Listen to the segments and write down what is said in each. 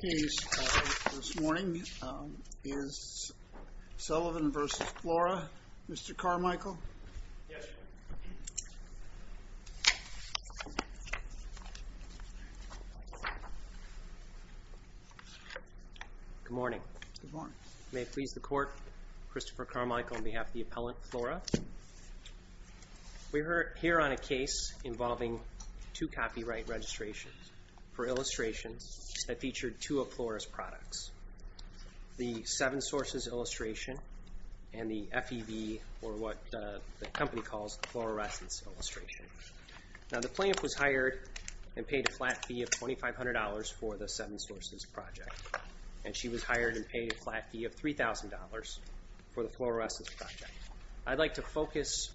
Good morning. May it please the Court, Christopher Carmichael on behalf of the appellant, Flora. We're here on a case involving two copyright registrations for illustrations that featured two of Flora's products, the Seven Sources illustration and the FEB, or what the company calls the Flora Essence illustration. Now the plaintiff was hired and paid a flat fee of $2,500 for the Seven Sources project, and she was hired and paid a flat fee of $3,000 for the Flora Essence project. I'd like to focus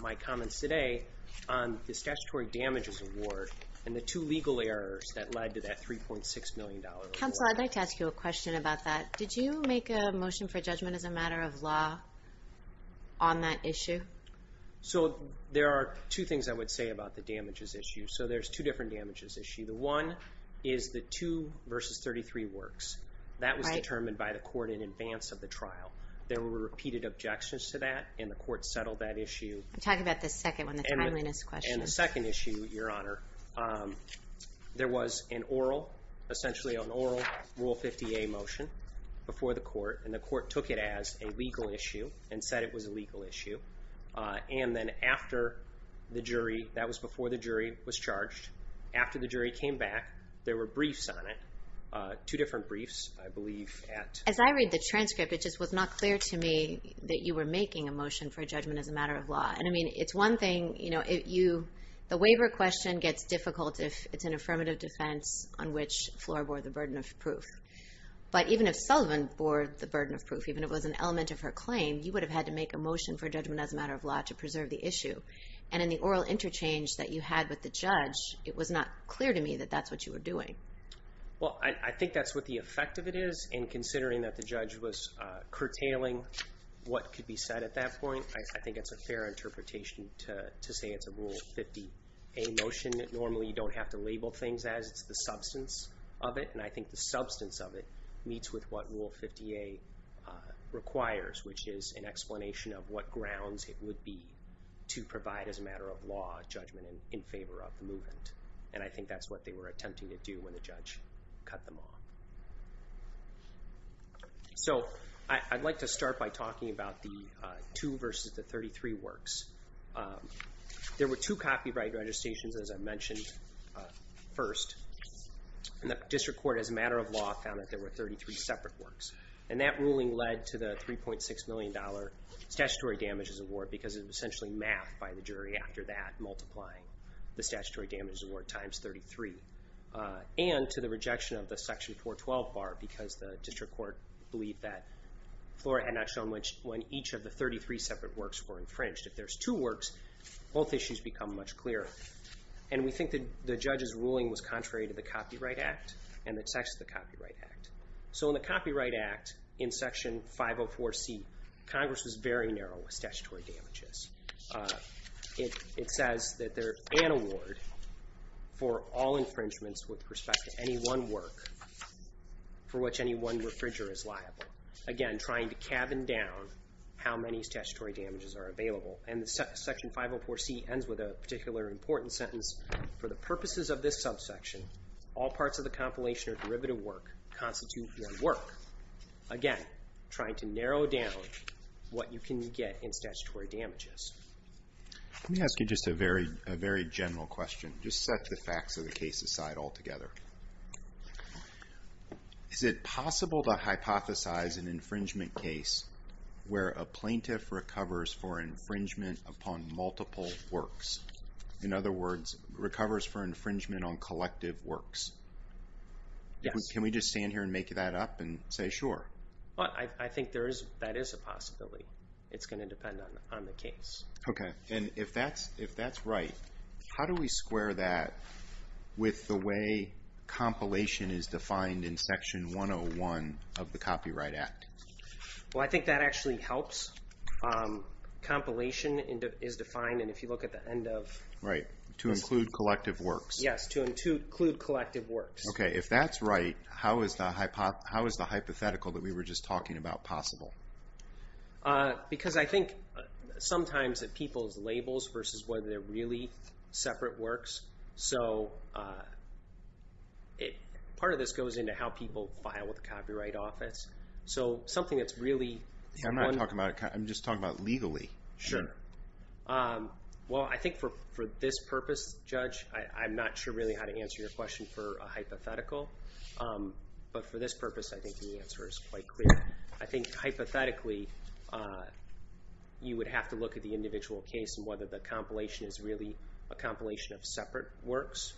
my comments today on the statutory damages award and the two legal errors that led to that $3.6 million award. Counsel, I'd like to ask you a question about that. Did you make a motion for judgment as a matter of law on that issue? So there are two things I would say about the damages issue. So there's two different damages issues. The one is the two versus 33 works. That was determined by the court in advance of the trial. There were repeated objections to that, and the court settled that issue. Talk about the second one, the timeliness question. And the second issue, Your Honor, there was an oral, essentially an oral Rule 50A motion before the court, and the court took it as a legal issue and said it was a legal issue. And then after the jury, that was before the jury was charged. After the jury came back, there were briefs on it, two different briefs, I believe, at... As I read the transcript, it just was not clear to me that you were making a motion for judgment as a matter of law. And I mean, it's one thing, you know, if you, the waiver question gets difficult if it's an affirmative defense on which Flora bore the burden of proof. But even if Sullivan bore the burden of proof, even if it was an element of her claim, you would have had to make a motion for judgment as a matter of law to preserve the issue. And in the oral interchange that you had with the judge, it was not clear to me that that's what you were doing. Well, I think that's what the effect of it is, and considering that the judge was curtailing what could be said at that point, I think it's a fair interpretation to say it's a Rule 50A motion. Normally, you don't have to label things as it's the substance of it, and I think the substance of it meets with what Rule 50A requires, which is an explanation of what grounds it would be to provide as a matter of law judgment in favor of the movement. And I think that's what they were attempting to do when the judge cut them off. So I'd like to start by talking about the two versus the 33 works. There were two copyright registrations, as I mentioned, first. And the district court, as a matter of law, found that there were 33 separate works. And that ruling led to the $3.6 million Statutory Damages Award, because it was essentially mapped by the jury after that, multiplying the Statutory Damages Award times 33. And to the rejection of the Section 412 bar, because the district court believed that Flora had not shown when each of the 33 separate works were infringed. If there's two works, both issues become much clearer. And we think that the judge's ruling was contrary to the Copyright Act, and it's actually the Copyright Act. So in the Copyright Act, in Section 504C, Congress was very narrow with statutory damages. It says that there's an award for all infringements with respect to any one work for which any one refriger is liable. Again, trying to cabin down how many statutory damages are available. And Section 504C ends with a particular important sentence, for the purposes of this subsection, all parts of the compilation or derivative work constitute one work. Again, trying to narrow down what you can get in statutory damages. Let me ask you just a very general question. Just set the facts of the case aside altogether. Is it possible to hypothesize an infringement case where a plaintiff recovers for infringement upon multiple works? In other words, recovers for infringement on collective works? Yes. Can we just stand here and make that up and say, sure? I think that is a possibility. It's going to depend on the case. Okay. And if that's right, how do we square that with the way compilation is defined in Section 101 of the Copyright Act? Well, I think that actually helps. Compilation is defined, and if you look at the end of... Right. To include collective works. Yes. To include collective works. Okay. If that's right, how is the hypothetical that we were just talking about possible? Because I think sometimes that people's labels versus whether they're really separate works. So part of this goes into how people file with the Copyright Office. So something that's really... I'm not talking about... I'm just talking about legally. Sure. Well, I think for this purpose, Judge, I'm not sure really how to answer your question for a hypothetical. But for this purpose, I think the answer is quite clear. I think hypothetically, you would have to look at the individual case and whether the compilation is really a compilation of separate works,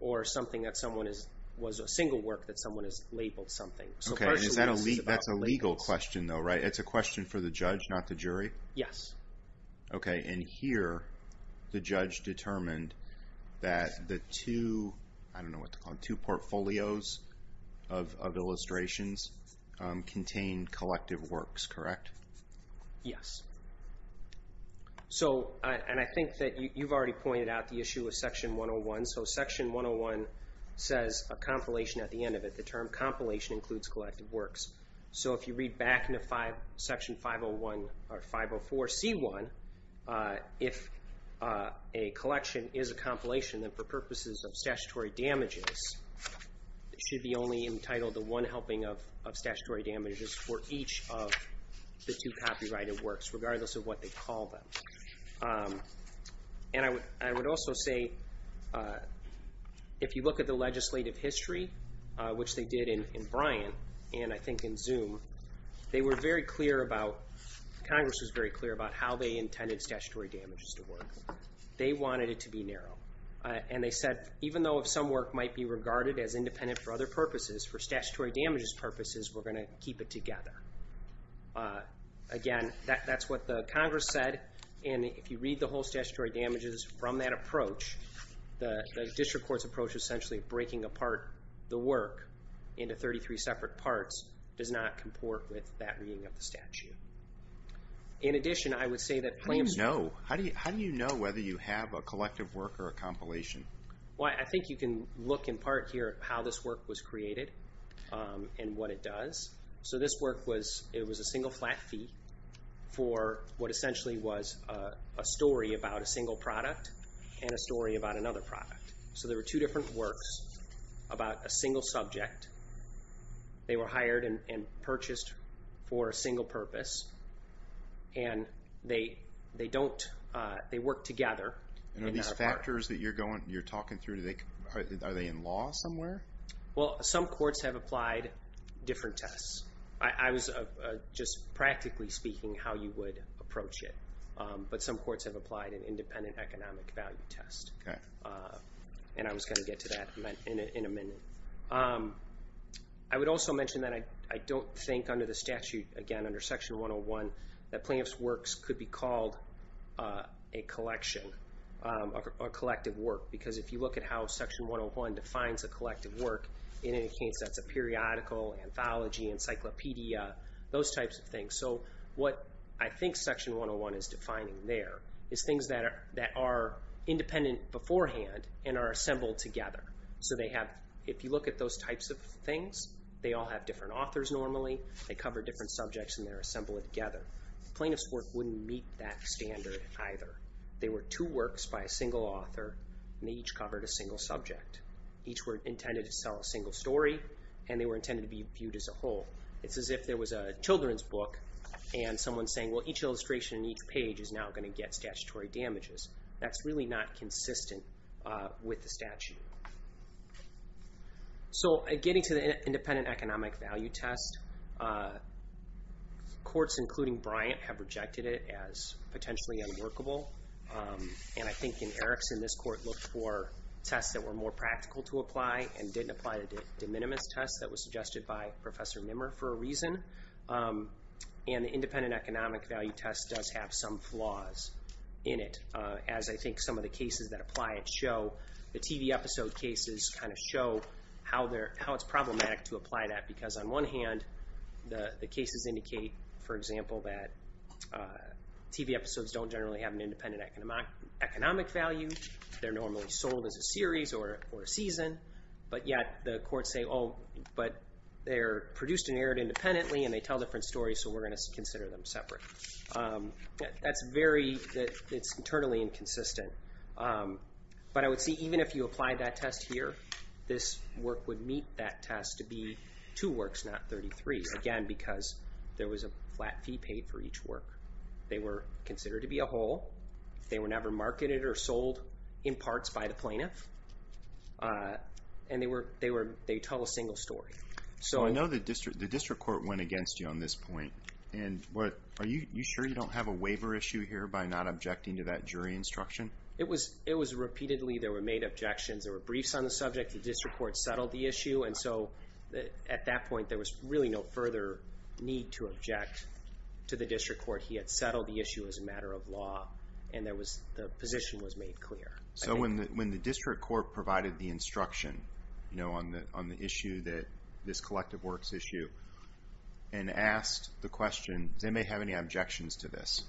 or something that someone is... Was a single work that someone has labeled something. Okay. So partially, this is about labels. That's a legal question, though, right? It's a question for the judge, not the jury? Yes. Okay. And here, the judge determined that the two... I don't know what to call them. Two portfolios of illustrations contained collective works, correct? Yes. So... And I think that you've already pointed out the issue of Section 101. So Section 101 says a compilation at the end of it. The term compilation includes collective works. So if you read back into Section 504C1, if a collection is a compilation, then for purposes of statutory damages, it should be only entitled the one helping of statutory damages for each of the two copyrighted works, regardless of what they call them. And I would also say, if you look at the legislative history, which they did in Bryant, and I think in Zoom, they were very clear about... Congress was very clear about how they intended statutory damages to work. They wanted it to be narrow. And they said, even though if some work might be regarded as independent for other purposes, for statutory damages purposes, we're going to keep it together. Again, that's what the Congress said. And if you read the whole statutory damages from that approach, the district court's approach, essentially breaking apart the work into 33 separate parts, does not comport with that reading of the statute. In addition, I would say that claims... How do you know? How do you know whether you have a collective work or a compilation? Well, I think you can look in part here at how this work was created and what it does. So, this work was... It was a single flat fee for what essentially was a story about a single product and a story about another product. So, there were two different works about a single subject. They were hired and purchased for a single purpose. And they don't... And are these factors that you're talking through, are they in law somewhere? Well, some courts have applied different tests. I was just practically speaking how you would approach it. But some courts have applied an independent economic value test. Okay. And I was going to get to that in a minute. I would also mention that I don't think under the statute, again, under Section 101, that plaintiff's works could be called a collection, a collective work. Because if you look at how Section 101 defines a collective work, in any case, that's a periodical, anthology, encyclopedia, those types of things. So, what I think Section 101 is defining there is things that are independent beforehand and are assembled together. So, they have... If you look at those types of things, they all have different authors normally. They cover different subjects and they're assembled together. Plaintiff's work wouldn't meet that standard either. They were two works by a single author and they each covered a single subject. Each were intended to sell a single story and they were intended to be viewed as a whole. It's as if there was a children's book and someone saying, well, each illustration in each page is now going to get statutory damages. That's really not consistent with the statute. So, getting to the independent economic value test, courts, including Bryant, have rejected it as potentially unworkable. And I think in Erickson, this court looked for tests that were more practical to apply and didn't apply the de minimis test that was suggested by Professor Nimmer for a reason. And the independent economic value test does have some flaws in it. As I think some of the cases that apply it show, the TV episode cases kind of show how it's problematic to apply that because on one hand, the cases indicate, for example, that TV episodes don't generally have an independent economic value. They're normally sold as a series or a season, but yet the courts say, oh, but they're produced and aired independently and they tell different stories so we're going to consider them separate. It's internally inconsistent. But I would see, even if you apply that test here, this work would meet that test to be two works, not 33. Again, because there was a flat fee paid for each work. They were considered to be a whole. They were never marketed or sold in parts by the plaintiff. And they tell a single story. So I know the district court went against you on this point. And are you sure you don't have a waiver issue here by not objecting to that jury instruction? It was repeatedly. There were made objections. There were briefs on the subject. The district court settled the issue. And so at that point, there was really no further need to object to the district court. He had settled the issue as a matter of law and the position was made clear. So when the district court provided the instruction on the issue, this collective works issue, and asked the question, does anybody have any objections to this?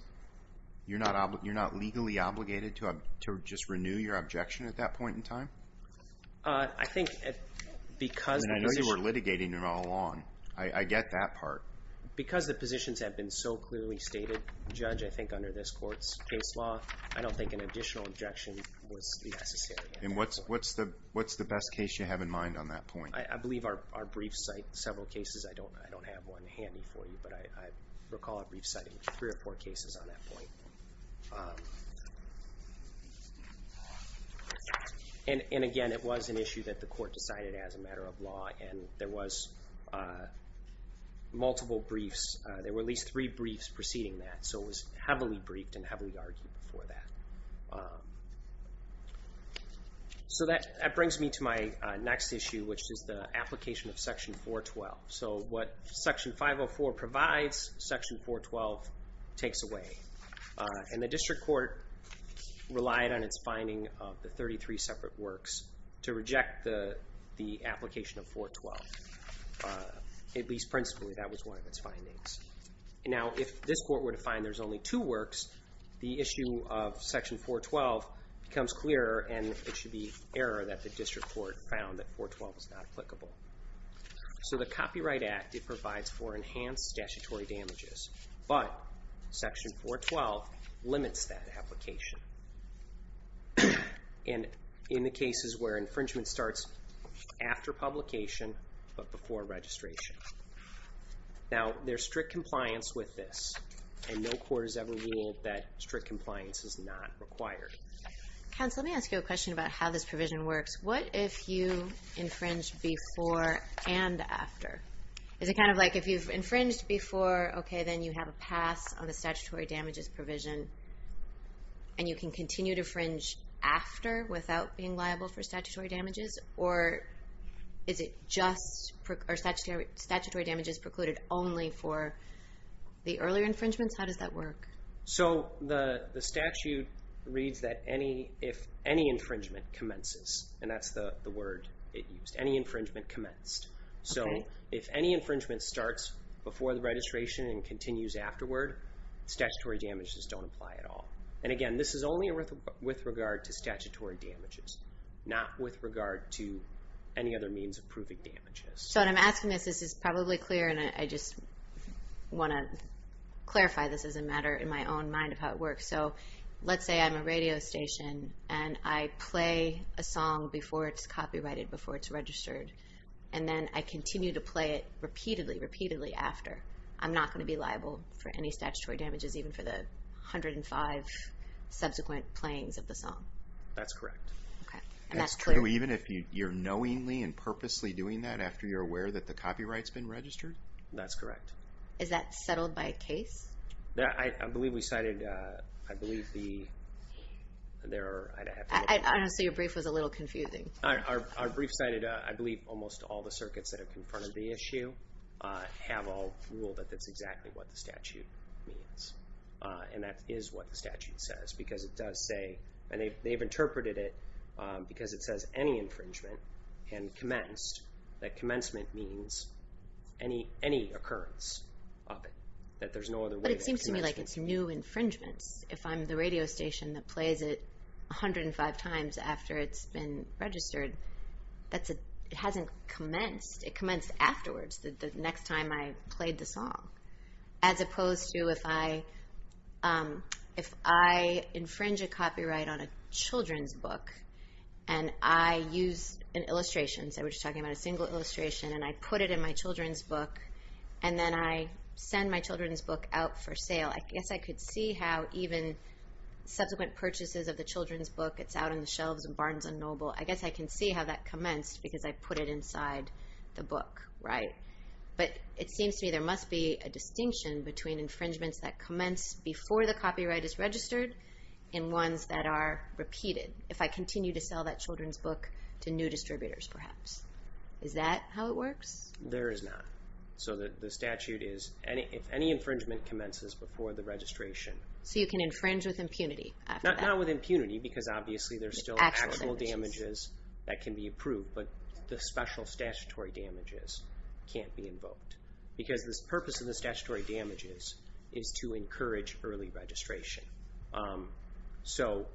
You're not legally obligated to just renew your objection at that point in time? I think because... I know you were litigating it all along. I get that part. Because the positions have been so clearly stated, judge, I think under this court's case law, I don't think an additional objection was necessary. And what's the best case you have in mind on that point? I believe our briefs cite several cases. I don't have one handy for you. But I recall a brief citing three or four cases on that point. And again, it was an issue that the court decided as a matter of law. And there was multiple briefs. There were at least three briefs preceding that. So it was heavily briefed and heavily argued before that. So that brings me to my next issue, which is the application of Section 412. So what Section 504 provides, Section 412 takes away. And the district court relied on its finding of the 33 separate works to reject the application of 412. At least principally, that was one of its findings. Now, if this court were to find there's only two works, the issue of Section 412 becomes clearer, and it should be error that the district court found that 412 was not applicable. So the Copyright Act, it provides for enhanced statutory damages. But Section 412 limits that application. And in the cases where infringement starts after publication, but before registration. Now, there's strict compliance with this. And no court has ever ruled that strict compliance is not required. Counsel, let me ask you a question about how this provision works. What if you infringe before and after? Is it kind of like if you've infringed before, okay, then you have a pass on the statutory damages provision. And you can continue to fringe after without being liable for statutory damages? Or is it just, are statutory damages precluded only for the earlier infringements? How does that work? So the statute reads that if any infringement commences. And that's the word it used. Any infringement commenced. So if any infringement starts before the registration and continues afterward, statutory damages don't apply at all. And again, this is only with regard to statutory damages. Not with regard to any other means of proving damages. So what I'm asking is, this is probably clear, and I just want to clarify this as a matter in my own mind of how it works. So let's say I'm a radio station, and I play a song before it's copyrighted, before it's registered. And then I continue to play it repeatedly, repeatedly after. I'm not going to be liable for any statutory damages, even for the 105 subsequent playings of the song. That's correct. And that's true even if you're knowingly and purposely doing that after you're aware that the copyright's been registered? That's correct. Is that settled by a case? I believe we cited, I believe the... I don't know, so your brief was a little confusing. Our brief cited, I believe almost all the circuits that have confronted the issue have a rule that that's exactly what the statute means. And that is what the statute says. Because it does say, and they've interpreted it because it says any infringement can commence. That commencement means any occurrence of it. That there's no other way that it can commence. But it seems to me like it's new infringements. If I'm the radio station that plays it 105 times after it's been registered, it hasn't commenced. It commenced afterwards, the next time I played the song. As opposed to if I infringe a copyright on a children's book and I use an illustration, so we're just talking about a single illustration and I put it in my children's book and then I send my children's book out for sale. I guess I could see how even subsequent purchases of the children's book it's out on the shelves in Barnes & Noble. I guess I can see how that commenced because I put it inside the book. But it seems to me there must be a distinction between infringements that commence before the copyright is registered and ones that are repeated. If I continue to sell that children's book to new distributors perhaps. Is that how it works? There is not. So the statute is if any infringement commences before the registration. So you can infringe with impunity? Not with impunity because obviously there's still actual damages that can be approved but the special statutory damages can't be invoked. Because the purpose of the statutory damages is to encourage early registration. So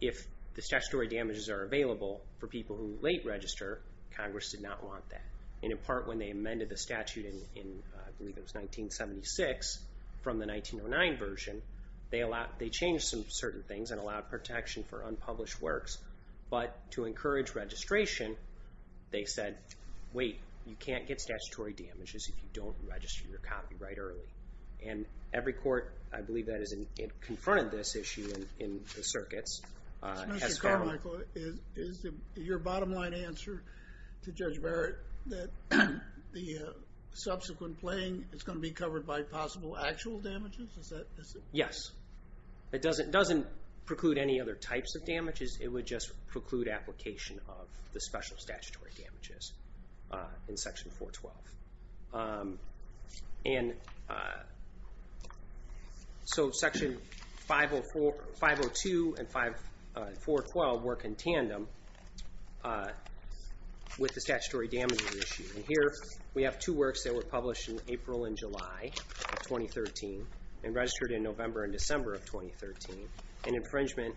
if the statutory damages are available for people who late register Congress did not want that. In part when they amended the statute in I believe it was 1976 from the 1909 version they changed some certain things and allowed protection for unpublished works but to encourage registration they said wait you can't get statutory damages if you don't register your copyright early. And every court I believe that has confronted this issue in the circuits. Mr. Carmichael is your bottom line answer to Judge Barrett that the subsequent playing is going to be covered by possible actual damages? Yes. It doesn't preclude any other types of damages. It would just preclude application of the special statutory damages in section 412. So section 502 and 412 work in tandem with the statutory damages issue. Here we have two works that were published in April and July of 2013 and registered in November and December of 2013. An infringement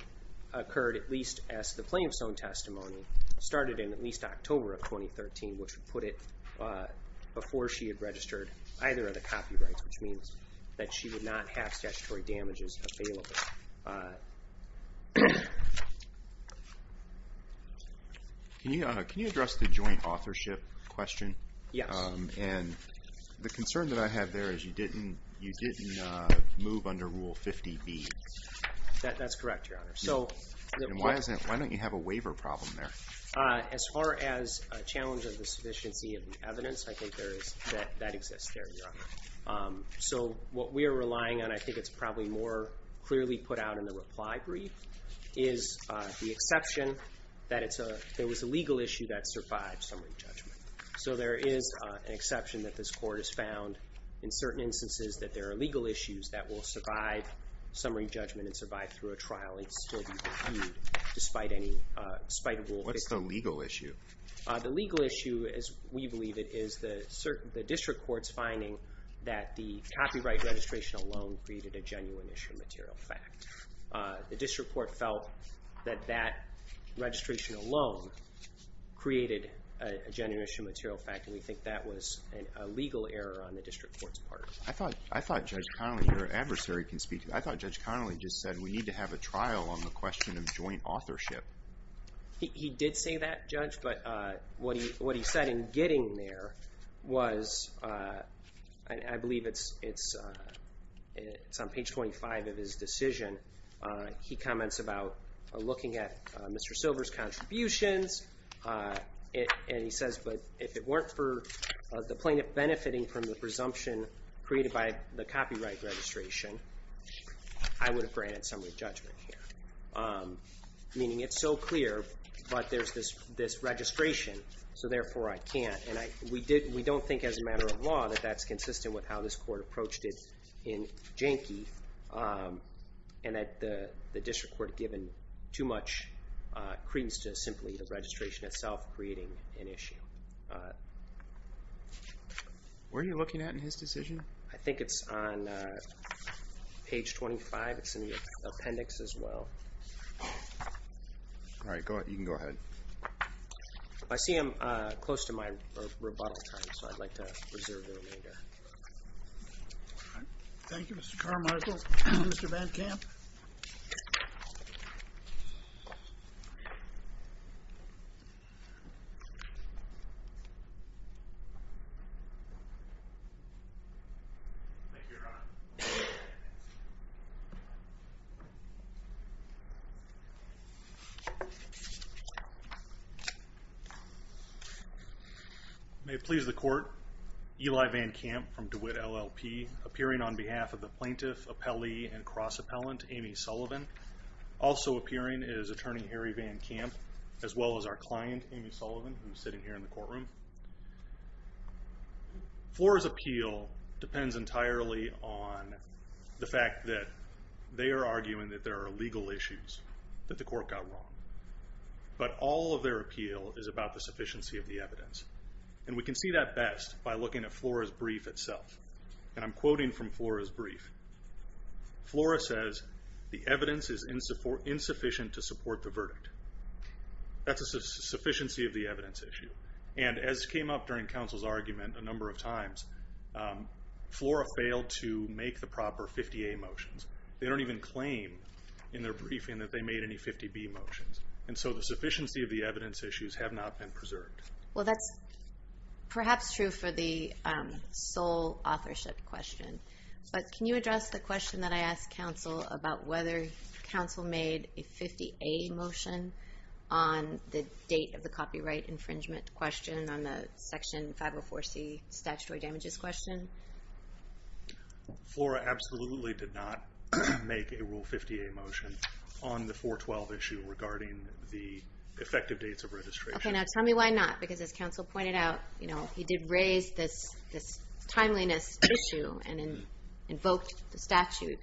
occurred at least as the plain stone testimony started in at least October of 2013 which would put it before she had registered either of the copyrights which means that she would not have statutory damages available. Can you address the joint authorship question? Yes. And the concern that I have there is you didn't move under Rule 50B That's correct, Your Honor. Why don't you have a waiver problem there? As far as a challenge of the sufficiency of the evidence I think that exists there, Your Honor. So what we are relying on I think it's probably more clearly put out in the reply brief is the exception that it was a legal issue that survived summary judgment. So there is an exception that this court has found in certain instances that there are legal issues that will survive summary judgment and survive through a trial and still be reviewed despite Rule 50. What's the legal issue? The legal issue as we believe it is the district court's finding that the copyright registration alone created a genuine issue material fact. The district court felt that that registration alone created a genuine issue material fact and we think that was a legal error on the district court's part. I thought Judge Connolly, your adversary I thought Judge Connolly just said we need to have a trial on the question of joint authorship. He did say that, Judge but what he said in getting there was I believe it's on page 25 of his decision he comments about looking at Mr. Silver's contributions and he says if it weren't for the plaintiff benefiting from the presumption created by the copyright registration I would have granted summary judgment. Meaning it's so clear but there's this registration so therefore I can't and we don't think as a matter of law that that's consistent with how this court approached it in Jankey had given too much credence to simply the registration itself creating an issue. Where are you looking at in his decision? I think it's on page 25, it's in the appendix as well Alright, you can go ahead I see him close to my rebuttal time so I'd like to reserve the remainder Thank you Mr. Carmichael Mr. Van Kamp Thank you Your Honor May it please the court Eli Van Kamp from DeWitt LLP appearing on behalf of the plaintiff appellee and cross-appellant Amy Sullivan also appearing is attorney Harry Van Kamp as well as our client Amy Sullivan who is sitting here in the courtroom Flora's appeal depends entirely on the fact that they are arguing that there are legal issues that the court got wrong but all of their appeal is about the sufficiency of the evidence and we can see that best by looking at Flora's brief itself and I'm quoting from Flora's brief Flora says the evidence is insufficient to support the verdict that's a sufficiency of the evidence issue and as came up during counsel's hearing a number of times Flora failed to make the proper 50A motions they don't even claim in their briefing that they made any 50B motions and so the sufficiency of the evidence issues have not been preserved Well that's perhaps true for the sole authorship question but can you address the question that I asked counsel about whether counsel made a 50A motion on the date of the copyright infringement question on the section 504C statutory damages question Flora absolutely did not make a rule 50A motion on the 412 issue regarding the effective dates of registration Tell me why not because as counsel pointed out he did raise this timeliness issue and invoked the statute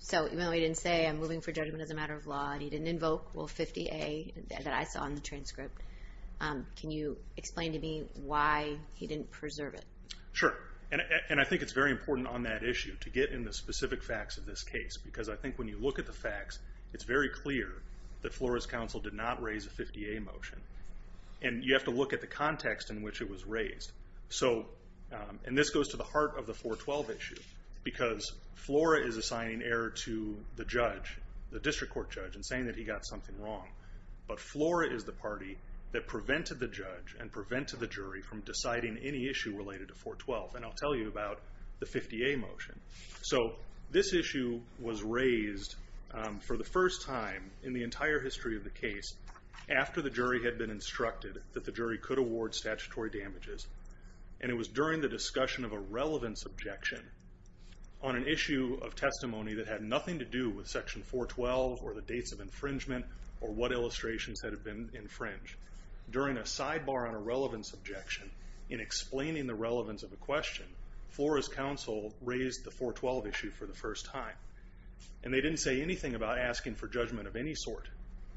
so even though he didn't say I'm moving for judgment as a matter of law and he didn't invoke rule 50A that I saw in the transcript can you explain to me why he didn't preserve it Sure and I think it's very important on that issue to get in the specific facts of this case because I think when you look at the facts it's very clear that Flora's counsel did not raise a 50A motion and you have to look at the context in which it was raised so and this goes to the heart of the 412 issue because Flora is assigning error to the judge the district court judge and saying that he got something wrong but Flora is the party that prevented the judge and prevented the jury from deciding any issue related to 412 and I'll tell you about the 50A motion so this issue was raised for the first time in the entire history of the case after the jury had been instructed that the jury could award statutory damages and it was during the discussion of a relevance objection on an issue of testimony that had nothing to do with section 412 or the dates of infringement or what illustrations had been infringed during a sidebar on a relevance objection in explaining the relevance of a question Flora's counsel raised the 412 issue for the first time and they didn't say anything about asking for judgment of any sort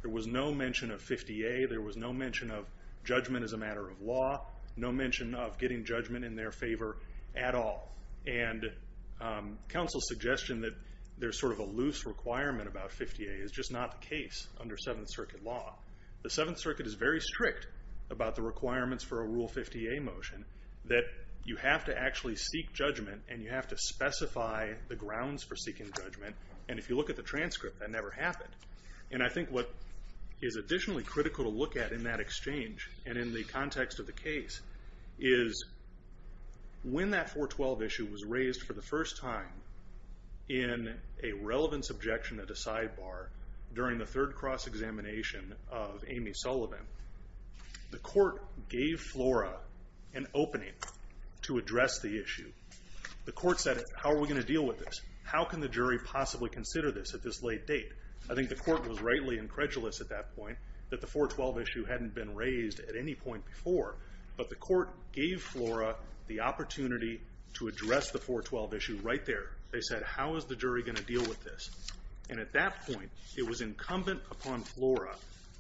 there was no mention of 50A there was no mention of judgment as a matter of law no mention of getting judgment in their favor at all and counsel's suggestion that there's sort of a loose requirement about 50A is just not the case under 7th Circuit law the 7th Circuit is very strict about the requirements for a Rule 50A motion that you have to actually seek judgment and you have to specify the grounds for seeking judgment and if you look at the transcript that never happened and I think what is additionally critical to look at in that exchange and in the context of the case is when that 412 issue was raised for the first time in a relevance objection at a sidebar during the third cross examination of Amy Sullivan the court gave Flora an opening to address the issue the court said how are we going to deal with this how can the jury possibly consider this at this late date I think the court was rightly incredulous at that point that the 412 issue hadn't been raised at any point before but the court gave Flora the opportunity to address the 412 issue right there they said how is the jury going to deal with this and at that point it was incumbent upon Flora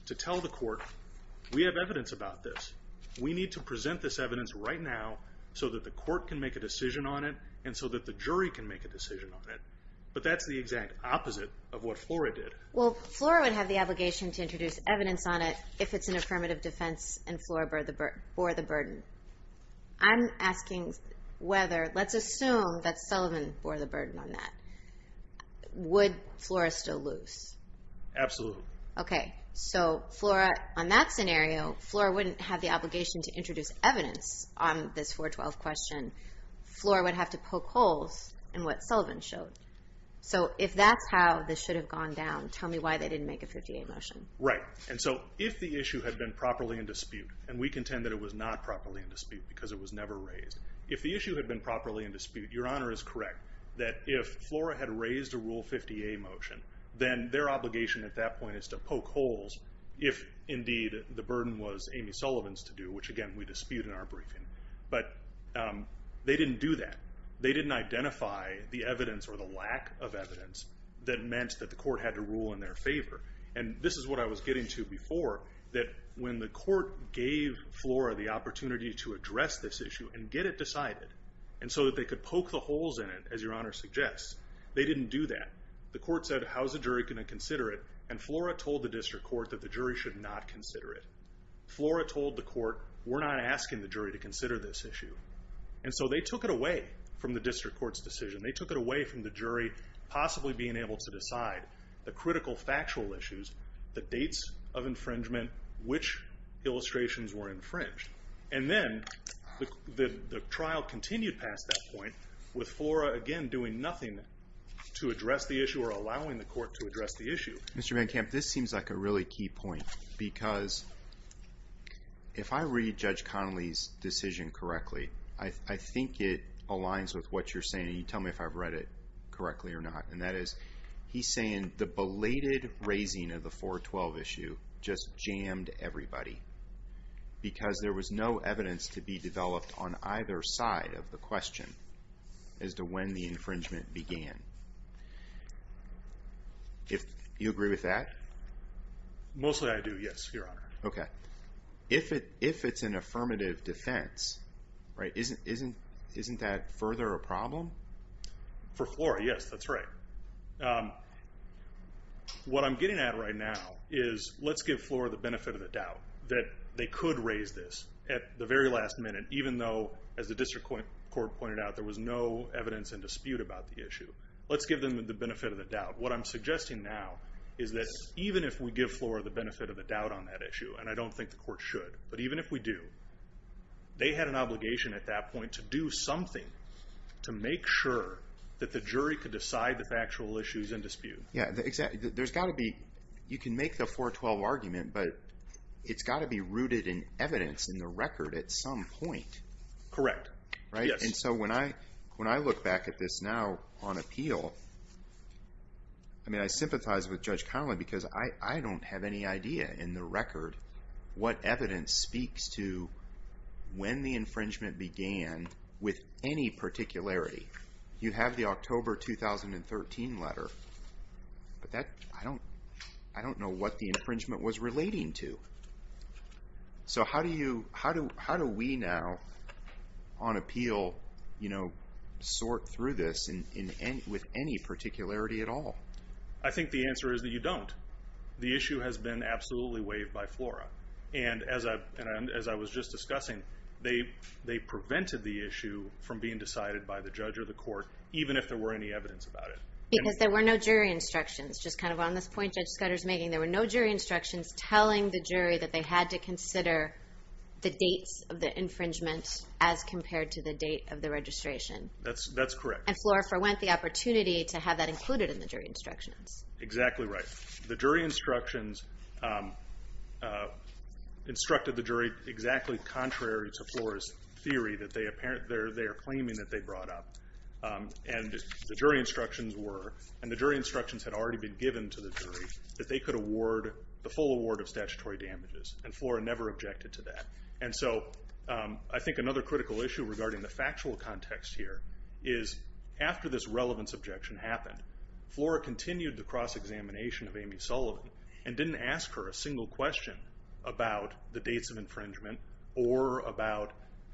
to tell the court we have evidence about this we need to present this evidence right now so that the court can make a decision on it and so that the jury can make a decision on it but that's the exact opposite of what Flora did. Well Flora would have the obligation to introduce evidence on it if it's an affirmative defense and Flora bore the burden I'm asking whether let's assume that Sullivan bore the burden on that would Flora still lose? Absolutely. Okay so Flora on that scenario Flora wouldn't have the obligation to introduce evidence on this 412 question Flora would have to poke holes in what Sullivan showed so if that's how this should have gone down tell me why they didn't make a 58 motion. Right and so if the issue had been properly in dispute and we contend that it was not properly in dispute because it was never raised if the issue had been properly in dispute your honor is correct that if Flora had raised a rule 58 motion then their obligation at that point is to poke holes if indeed the burden was Amy Sullivan's to do which again we dispute in our briefing but they didn't do that they didn't identify the evidence or the lack of evidence that meant that the court had to rule in their favor and this is what I was getting to before that when the court gave Flora the opportunity to address this issue and get it decided and so that they could poke the holes in it as your honor suggests they didn't do that the court said how's the jury going to consider it and Flora told the district court that the jury should not consider it Flora told the court we're not asking the jury to consider this issue and so they took it away from the district court's decision they took it away from the jury possibly being able to decide the critical factual issues the dates of infringement which illustrations were infringed and then the trial continued past that point with Flora again doing nothing to address the issue or allowing the court to address the issue. Mr. Van Kamp this seems like a really key point because if I read Judge Connolly's decision correctly I think it aligns with what you're saying you tell me if I've read it correctly or not and that is he's saying the belated raising of the 412 issue just jammed everybody because there was no evidence to be developed on either side of the question as to when the infringement began if you agree with that mostly I do yes your honor if it's an affirmative defense isn't that further a problem for Flora yes that's right what I'm getting at right now is let's give Flora the benefit of the doubt that they could raise this at the very last minute even though as the district court pointed out there was no evidence and dispute about the issue let's give them the benefit of the doubt what I'm suggesting now is that even if we give Flora the benefit of the doubt on that issue and I don't think the court should but even if we do they had an obligation at that point to do something to make sure that the jury could decide the factual issues and dispute there's got to be you can make the 412 argument but it's got to be rooted in evidence in the record at some point correct when I look back at this now on appeal I sympathize with Judge Conlin because I don't have any idea in the record what evidence speaks to when the infringement began with any particularity you have the October 2013 letter I don't know what the infringement was relating to so how do you how do we now on appeal sort through this with any particularity at all I think the answer is that you don't the issue has been absolutely waived by Flora and as I was just discussing they prevented the issue from being decided by the judge or the court even if there were any evidence about it because there were no jury instructions just kind of on this point Judge Scudder is making there were no jury instructions telling the jury that they had to consider the dates of the infringement as compared to the date of the registration that's correct and Flora forwent the opportunity to have that included in the jury instructions exactly right the jury instructions instructed the jury exactly contrary to Flora's theory that they are claiming that they brought up and the jury instructions were and the jury instructions had already been given to the jury that they could award the full award of statutory damages and Flora never objected to that and so I think another critical issue regarding the factual context here is after this relevance objection happened Flora continued the cross examination of Amy Sullivan and didn't ask her a single question about the dates of infringement or about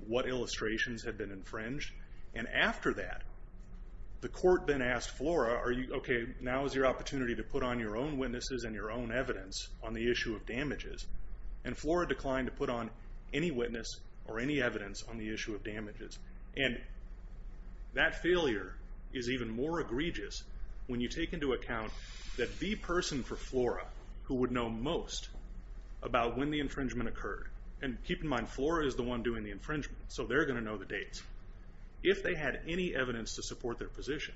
what illustrations had been infringed and after that the court then asked Flora okay now is your opportunity to put on your own witnesses and your own evidence on the issue of damages and Flora declined to put on any witness or any evidence on the issue of damages and that failure is even more egregious when you take into account that the person for Flora who would know most about when the infringement occurred and keep in mind Flora is the one doing the infringement so they're going to know the dates if they had any evidence to support their position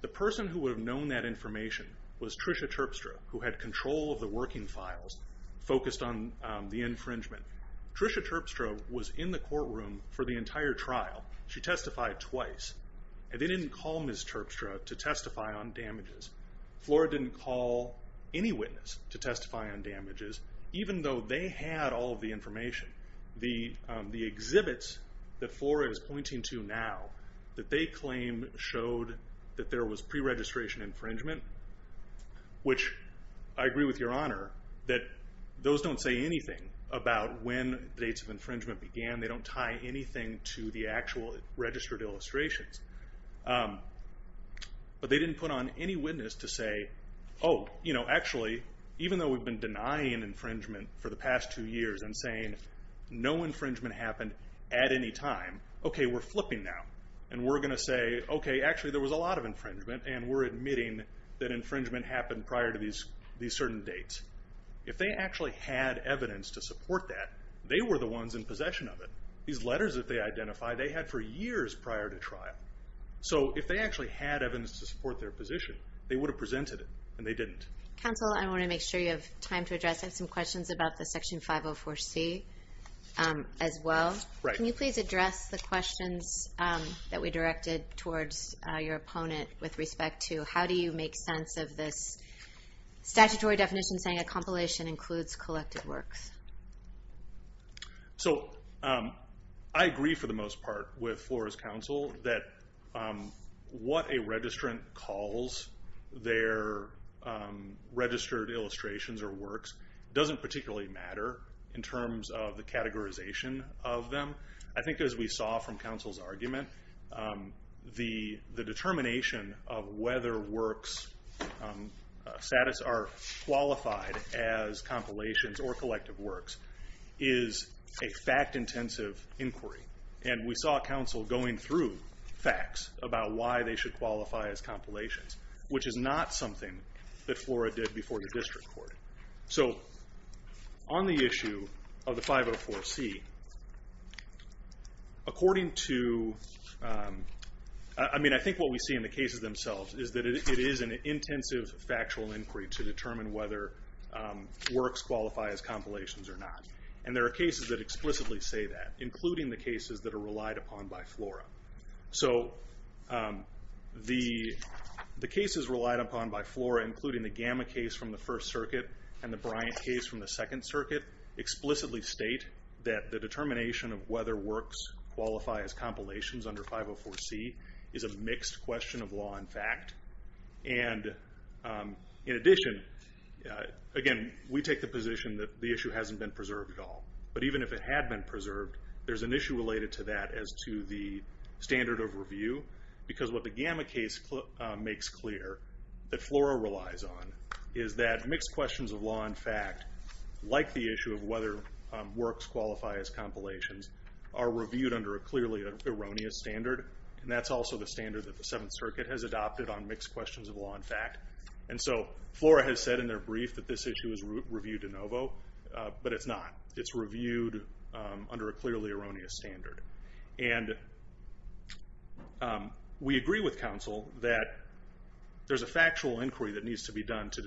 the person who would have known that information was Tricia Terpstra who had control of the working files focused on the infringement Tricia Terpstra was in the courtroom for the entire trial she testified twice and they didn't call witness Terpstra to testify on damages Flora didn't call any witness to testify on damages even though they had all of the information the exhibits that Flora is pointing to now that they claim showed that there was pre-registration infringement which I agree with your honor that those don't say anything about when the dates of infringement began they don't tie anything to the actual registered illustrations but they didn't put on any witness to say oh you know actually even though we've been denying infringement for the past two years and saying no infringement happened at any time ok we're flipping now and we're going to say ok actually there was a lot of infringement and we're admitting that infringement happened prior to these certain dates if they actually had evidence to support that they were the ones in possession of it these letters that they identified they had for years prior to trial so if they actually had evidence to support their position they would have presented it and they didn't counsel I want to make sure you have time to address I have some questions about the section 504c as well can you please address the questions that we directed towards your opponent with respect to how do you make sense of this statutory definition saying a compilation includes collected works so I agree for the most part with Flora's counsel that what a registrant calls their registered illustrations or works doesn't particularly matter in terms of the categorization of them I think as we saw from counsel's argument the determination of whether works are qualified as compilations or collective works is a fact intensive inquiry and we saw counsel going through facts about why they should qualify as compilations which is not something that Flora did before the district court so on the issue of the 504c according to I mean I think what we see in the cases themselves is that it is an intensive factual inquiry to determine whether works qualify as compilations or not and there are cases that explicitly say that including the cases that are relied upon by Flora so the cases relied upon by Flora including the Gamma case from the First Circuit and the Bryant case from the Second Circuit explicitly state that the determination of whether works qualify as compilations under 504c is a mixed question of law and fact and in addition again we take the position that the issue hasn't been preserved at all but even if it had been preserved there's an issue related to that as to the standard of review because what the Gamma case makes clear that Flora relies on is that mixed questions of law and fact like the issue of whether works qualify as compilations are reviewed under a clearly erroneous standard and that's also the standard that the Seventh Circuit has adopted on mixed questions of law and fact and so Flora has said in their brief that this issue is reviewed de novo but it's not. It's reviewed under a clearly erroneous standard and we agree with counsel that there's a factual inquiry that needs to be done to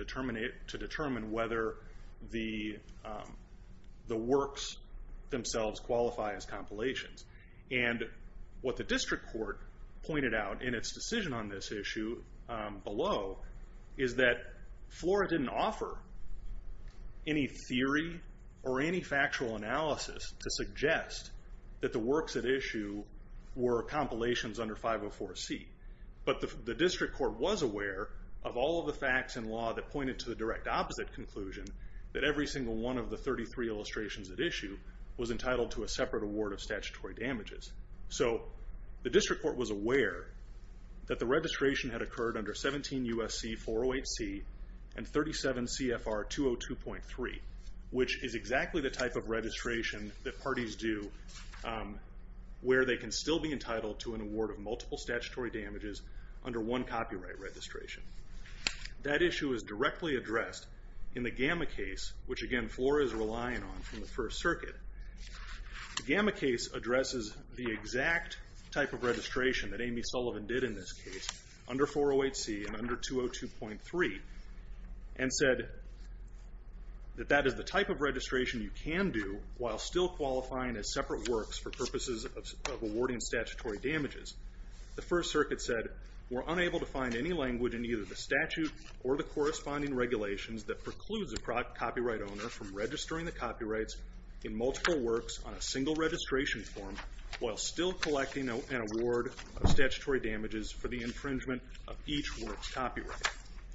determine whether the works themselves qualify as compilations and what the district court pointed out in its decision on this issue below is that Flora didn't offer any theory or any factual analysis to suggest that the works at issue were compilations under 504C but the district court was aware of all of the facts and law that pointed to the direct opposite conclusion that every single one of the 33 illustrations at issue was entitled to a separate award of statutory damages so the district court was aware that the registration had occurred under 17 U.S.C. 408C and 37 CFR 202.3 which is exactly the type of registration that parties do where they can still be entitled to an award of multiple statutory damages under one copyright registration. That issue is directly addressed in the gamma case which again Flora is relying on from the First Circuit The gamma case addresses the exact type of registration that Amy Sullivan did in this case under 408C and under 202.3 and said that that is the type of registration you can do while still qualifying as separate works for purposes of awarding statutory damages the First Circuit said we're unable to find any language in either the statute or the corresponding regulations that precludes a copyright owner from registering the copyrights in multiple works on a single registration form while still collecting an award of statutory damages for the infringement of each work's copyright.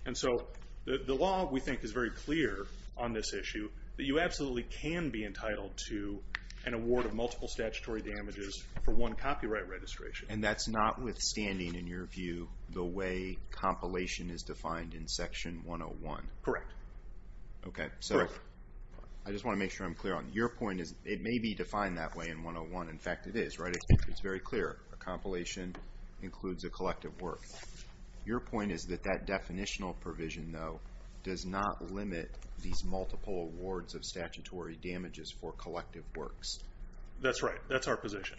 And so the law we think is very clear on this issue that you absolutely can be entitled to an award of multiple statutory damages for one copyright registration. And that's notwithstanding in your view the way compilation is defined in section 101. Correct. Okay, so I just want to make sure I'm clear on it. Your point is it may be defined that way in 101 in fact it is, right? It's very clear a compilation includes a collective work. Your point is that that definitional provision though does not limit these multiple awards of statutory damages for collective works. That's right. That's our position.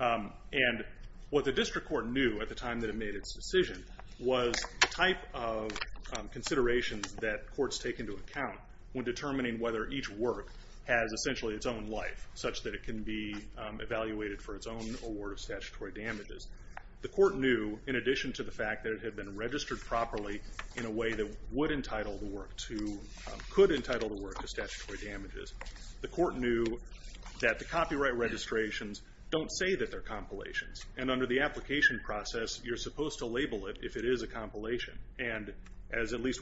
And what the district court knew at the time that it made its decision was the type of considerations that courts take into account when determining whether each work has essentially its own life such that it can be evaluated for its own award of statutory damages. The court knew in addition to the fact that it had been registered properly in a way that would entitle the work to, could entitle the work to statutory damages. The court knew that the copyright registrations don't say that they're compilations. And under the application process you're supposed to label it if it is a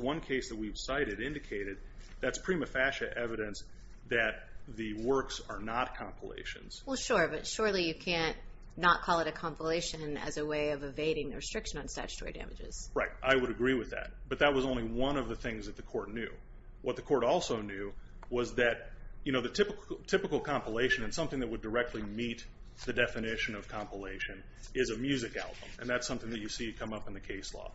one case that we've cited indicated that's prima facie evidence that the works are not compilations. Well sure, but surely you can't not call it a compilation as a way of evading the restriction on statutory damages. Right. I would agree with that. But that was only one of the things that the court knew. What the court also knew was that, you know, the typical compilation and something that would directly meet the definition of compilation is a music album. And that's something that you see come up in the case law.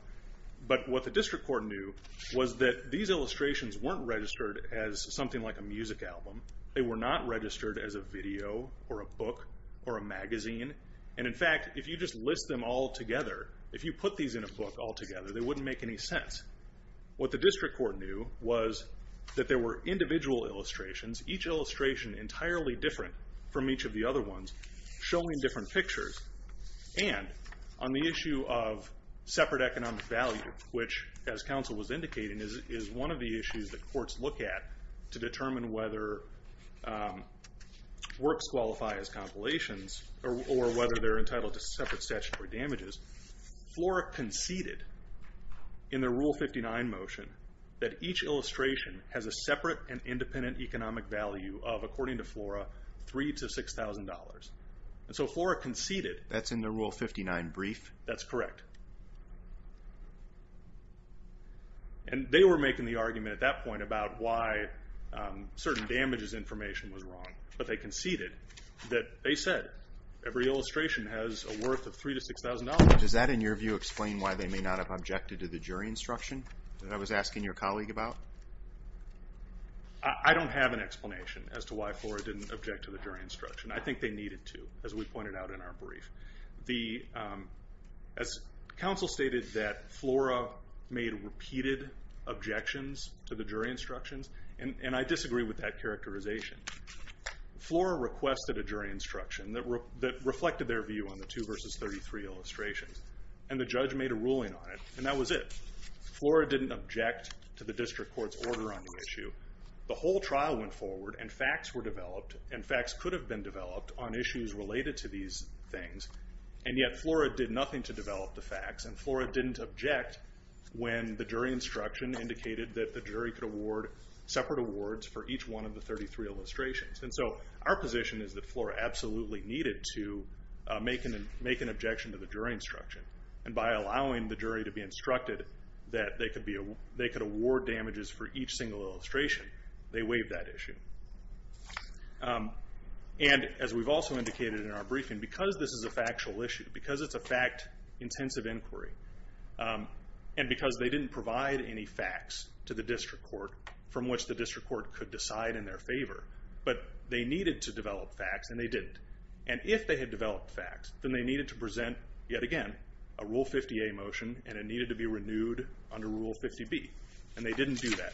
But what the district court knew was that these illustrations weren't registered as something like a music album. They were not registered as a video or a book or a magazine. And in fact, if you just list them all together, if you put these in a book all together, they wouldn't make any sense. What the district court knew was that there were individual illustrations, each illustration entirely different from each of the other ones, showing different pictures. And on the economic value, which, as counsel was indicating, is one of the issues that courts look at to determine whether works qualify as compilations or whether they're entitled to separate statutory damages, Flora conceded in the Rule 59 motion that each illustration has a separate and independent economic value of, according to Flora, $3,000 to $6,000. And so Flora conceded That's in the Rule 59 brief? That's correct. And they were making the argument at that point about why certain damages information was wrong. But they conceded that they said every illustration has a worth of $3,000 to $6,000. Does that, in your view, explain why they may not have objected to the jury instruction that I was asking your colleague about? I don't have an explanation as to why Flora didn't object to the jury instruction. I think they needed to, as we pointed out in our As counsel stated that Flora made repeated objections to the jury instructions and I disagree with that characterization. Flora requested a jury instruction that reflected their view on the 2 v. 33 illustrations. And the judge made a ruling on it, and that was it. Flora didn't object to the district court's order on the issue. The whole trial went forward, and facts were developed, and facts could have been developed on issues related to these things. And yet Flora did nothing to develop the facts, and Flora didn't object when the jury instruction indicated that the jury could award separate awards for each one of the 33 illustrations. And so our position is that Flora absolutely needed to make an objection to the jury instruction. And by allowing the jury to be instructed that they could award damages for each single illustration, they waived that issue. And as we've also indicated in our briefing, because this is a factual issue, because it's a fact-intensive inquiry, and because they didn't provide any facts to the district court from which the district court could decide in their favor, but they needed to develop facts and they didn't. And if they had developed facts, then they needed to present, yet again, a Rule 50A motion and it needed to be renewed under Rule 50B. And they didn't do that.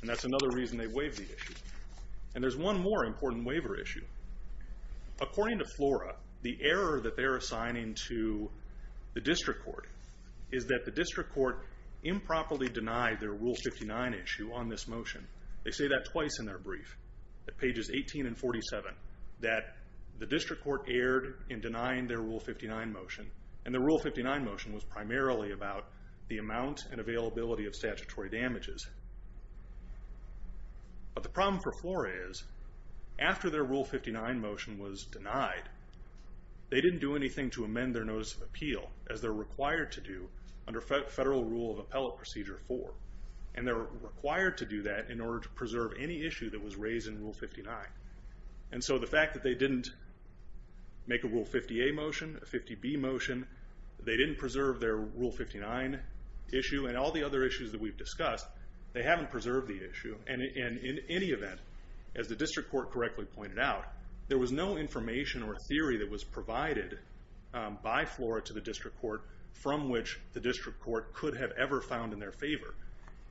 And that's another reason they waived the issue. And there's one more important waiver issue. According to Flora, the error that they're assigning to the district court is that the district court improperly denied their Rule 59 issue on this motion. They say that twice in their brief, at pages 18 and 47, that the district court erred in denying their Rule 59 motion. And their Rule 59 motion was primarily about the amount and availability of statutory damages. But the problem for their Rule 59 motion was denied. They didn't do anything to amend their Notice of Appeal, as they're required to do under Federal Rule of Appellate Procedure 4. And they're required to do that in order to preserve any issue that was raised in Rule 59. And so the fact that they didn't make a Rule 50A motion, a 50B motion, they didn't preserve their Rule 59 issue, and all the other issues that we've discussed, they haven't preserved the issue. And in any event, as the district court correctly pointed out, there was no information or theory that was provided by Flora to the district court from which the district court could have ever found in their favor.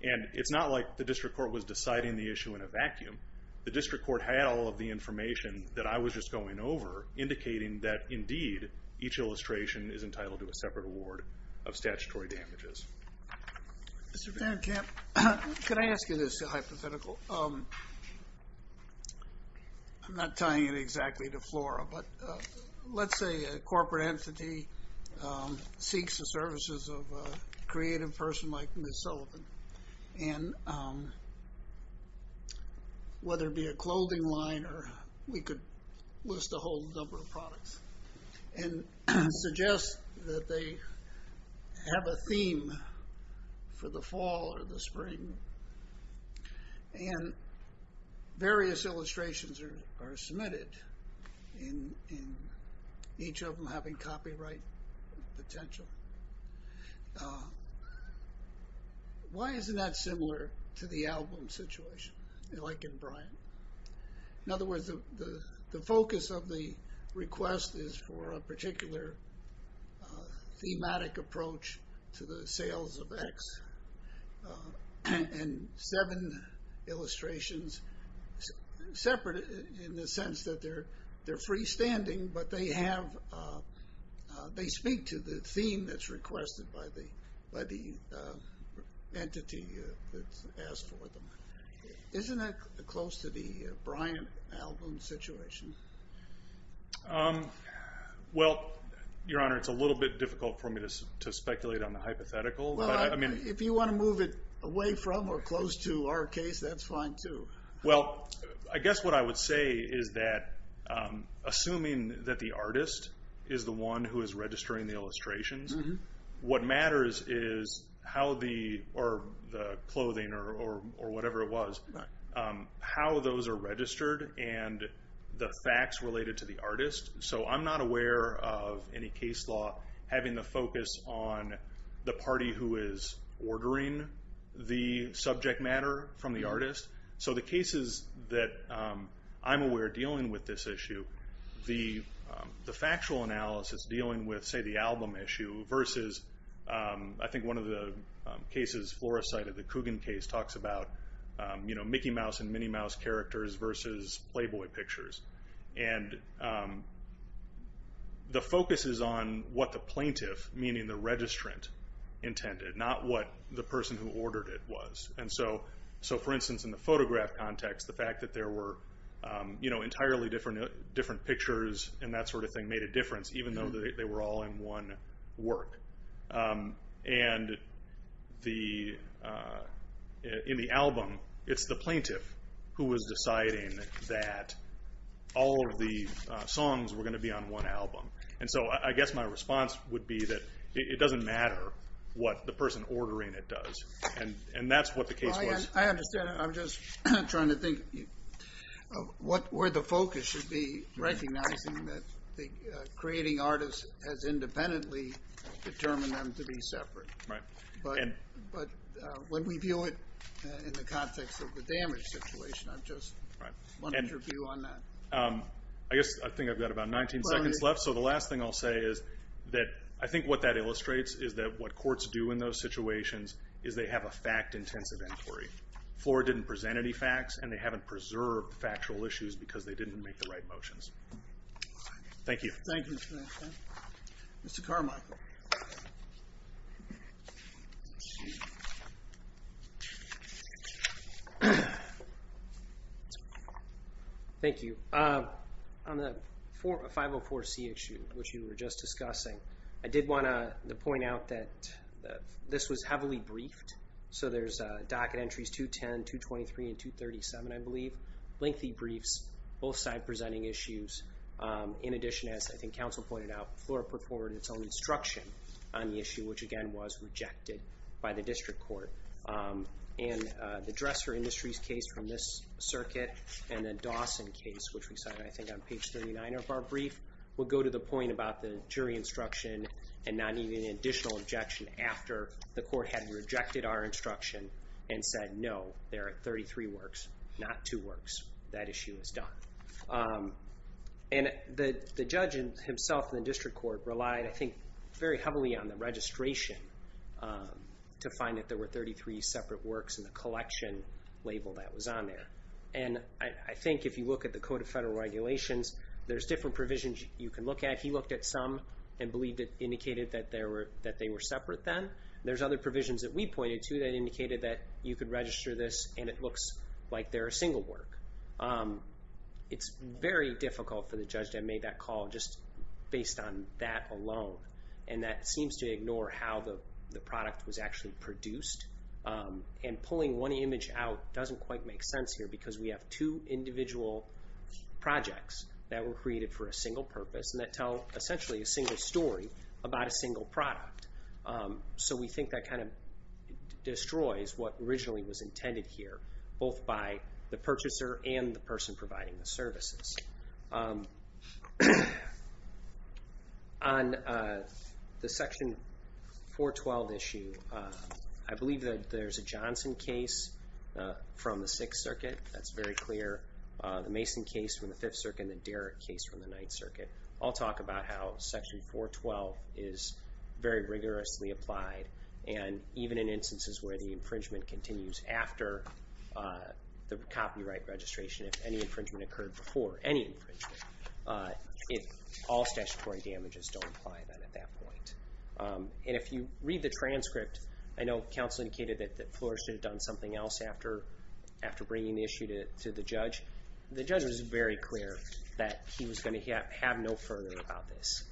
And it's not like the district court was deciding the issue in a vacuum. The district court had all of the information that I was just going over, indicating that indeed each illustration is entitled to a separate award of statutory damages. Mr. Van Kamp, can I ask you this hypothetical? I'm not tying it exactly to Flora, but let's say a corporate entity seeks the services of a creative person like Ms. Sullivan, and whether it be a clothing line or, we could list a whole number of products, and suggest that they have a theme for the sale. And various illustrations are submitted, each of them having copyright potential. Why isn't that similar to the album situation like in Bryan? In other words, the focus of the request is for a particular thematic approach to the sales of X. And seven illustrations separate in the sense that they're freestanding, but they have they speak to the theme that's requested by the entity that's asked for them. Isn't that close to the Bryan album situation? Well, Your Honor, it's a little bit difficult for me to speculate on the hypothetical. If you want to move it away from, or close to our case, that's fine too. Well, I guess what I would say is that, assuming that the artist is the one who is registering the illustrations, what matters is how the clothing, or whatever it was, how those are registered, and the facts related to the artist. So I'm not aware of any case law having the focus on the party who is ordering the subject matter from the artist. So the cases that I'm aware of dealing with this issue, the factual analysis dealing with, say, the album issue, versus, I think one of the cases, Flores cited the Coogan case, talks about Mickey Mouse and Minnie Mouse characters versus Playboy pictures. And the focus is on what the plaintiff, meaning the registrant, intended, not what the person who ordered it was. And so, for instance, in the photograph context, the fact that there were entirely different pictures and that sort of thing made a difference, even though they were all in one work. And in the album, it's the plaintiff who was deciding that all of the songs were going to be on one album. And so I guess my response would be that it doesn't matter what the person ordering it does. And that's what the case was. I'm just trying to think where the focus should be recognizing that creating artists has independently determined them to be separate. But when we view it in the context of the damage situation, I just wanted your view on that. I guess I think I've got about 19 seconds left, so the last thing I'll say is that I think what that illustrates is that what courts do in those situations is they have a fact-intensive inquiry. Flora didn't present any facts, and they haven't preserved factual issues because they didn't make the right motions. Thank you. Thank you. Mr. Carmichael. Thank you. On the 504C issue, which you were just discussing, I did want to point out that this was heavily briefed. So there's docket entries 210, 223, and 237, I believe. Lengthy briefs, both side presenting issues. In addition, as I think counsel pointed out, Flora put forward its own instruction on the issue, which again was rejected by the district court. And the Dresser Industries case from this circuit, and the Dawson case, which we cited, I think, on page 39 of our brief, would go to the point about the jury instruction and not needing an additional objection after the court had rejected our instruction and said, no, there are 33 works, not two works. That issue is done. And the judge himself in the district court relied, I think, very heavily on the registration to find that there were 33 separate works in the collection label that was on there. And I think if you look at the Code of Federal Regulations, there's different provisions you can look at. He looked at some and believed it indicated that they were separate then. There's other provisions that we pointed to that indicated that you could register this and it looks like they're a single work. It's very difficult for the judge to have made that call just based on that alone. And that seems to ignore how the product was actually produced. And pulling one image out doesn't quite make sense here because we have two individual projects that were created for a single purpose and that tell essentially a single story about a single product. So we think that kind of destroys what originally was intended here, both by the purchaser and the person providing the services. On the Section 412 issue, I believe that there's a Johnson case from the Sixth Circuit. That's very clear. The Mason case from the Fifth Circuit and the Derrick case from the Ninth Circuit. I'll talk about how Section 412 is very rigorously applied and even in instances where the infringement continues after the copyright registration, if any infringement occurred before any infringement, all statutory damages don't apply then at that point. And if you read the transcript, I know counsel indicated that Flora should have done something else after bringing the issue to the judge. The judge was very clear that he was going to have no further about this.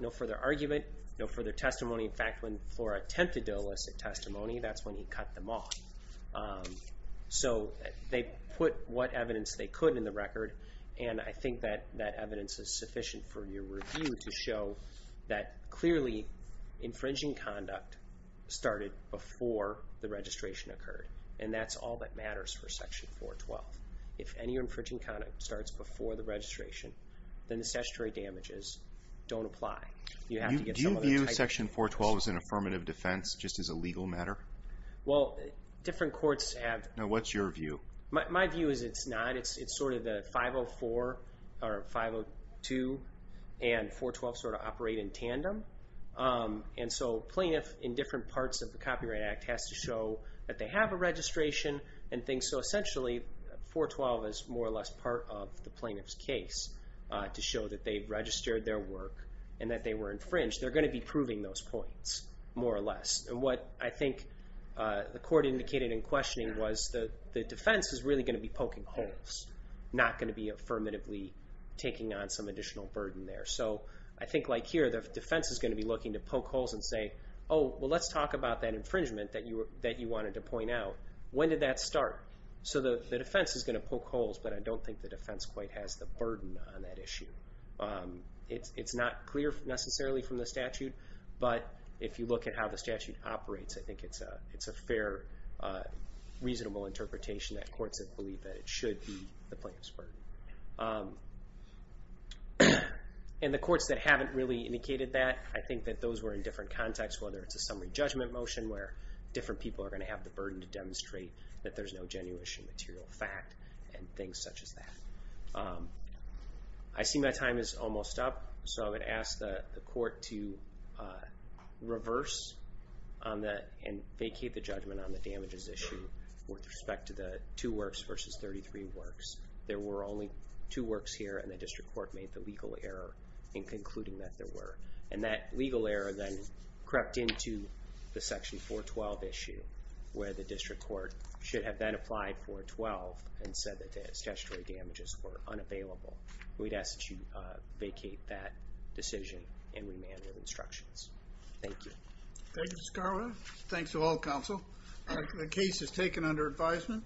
No further argument, no further testimony. In fact when Flora attempted to illicit testimony that's when he cut them off. So they put what evidence they could in the record and I think that that evidence is sufficient for your review to show that clearly infringing conduct started before the registration occurred. And that's all that matters for Section 412. If any infringing conduct starts before the registration then the statutory damages don't apply. Do you view Section 412 as an affirmative defense, just as a legal matter? Well, different courts have... Now what's your view? My view is it's not. It's sort of the 504, or 502 and 412 sort of operate in tandem. And so plaintiff in different parts of the Copyright Act has to show that they have a registration and things so essentially 412 is more or less part of the plaintiff's case to show that they've registered their work and that they were infringed. They're going to be proving those points more or less. And what I think the court indicated in questioning was that the defense is really going to be poking holes, not going to be affirmatively taking on some additional burden there. So I think like here the defense is going to be looking to poke holes and say, oh well let's talk about that infringement that you wanted to point out. When did that start? So the defense is going to poke holes but I don't think the defense quite has the burden on that issue. It's not clear necessarily from the statute, but if you look at how the statute operates I think it's a fair, reasonable interpretation that courts have believed that it should be the plaintiff's burden. And the courts that haven't really indicated that I think that those were in different contexts whether it's a summary judgment motion where different people are going to have the burden to demonstrate that there's no genuine material fact and things such as that. I see my time is almost up so I'm going to ask the court to reverse and vacate the judgment on the damages issue with respect to the two works versus 33 works. There were only two works here and the district court made the legal error in concluding that there were. And that legal error then crept into the section 412 issue where the district court should have then applied 412 and said that the statutory damages were unavailable. We'd ask that you vacate that decision and remand with Thank you Mr. Scarborough. Thanks to all counsel. The case is taken under advisement.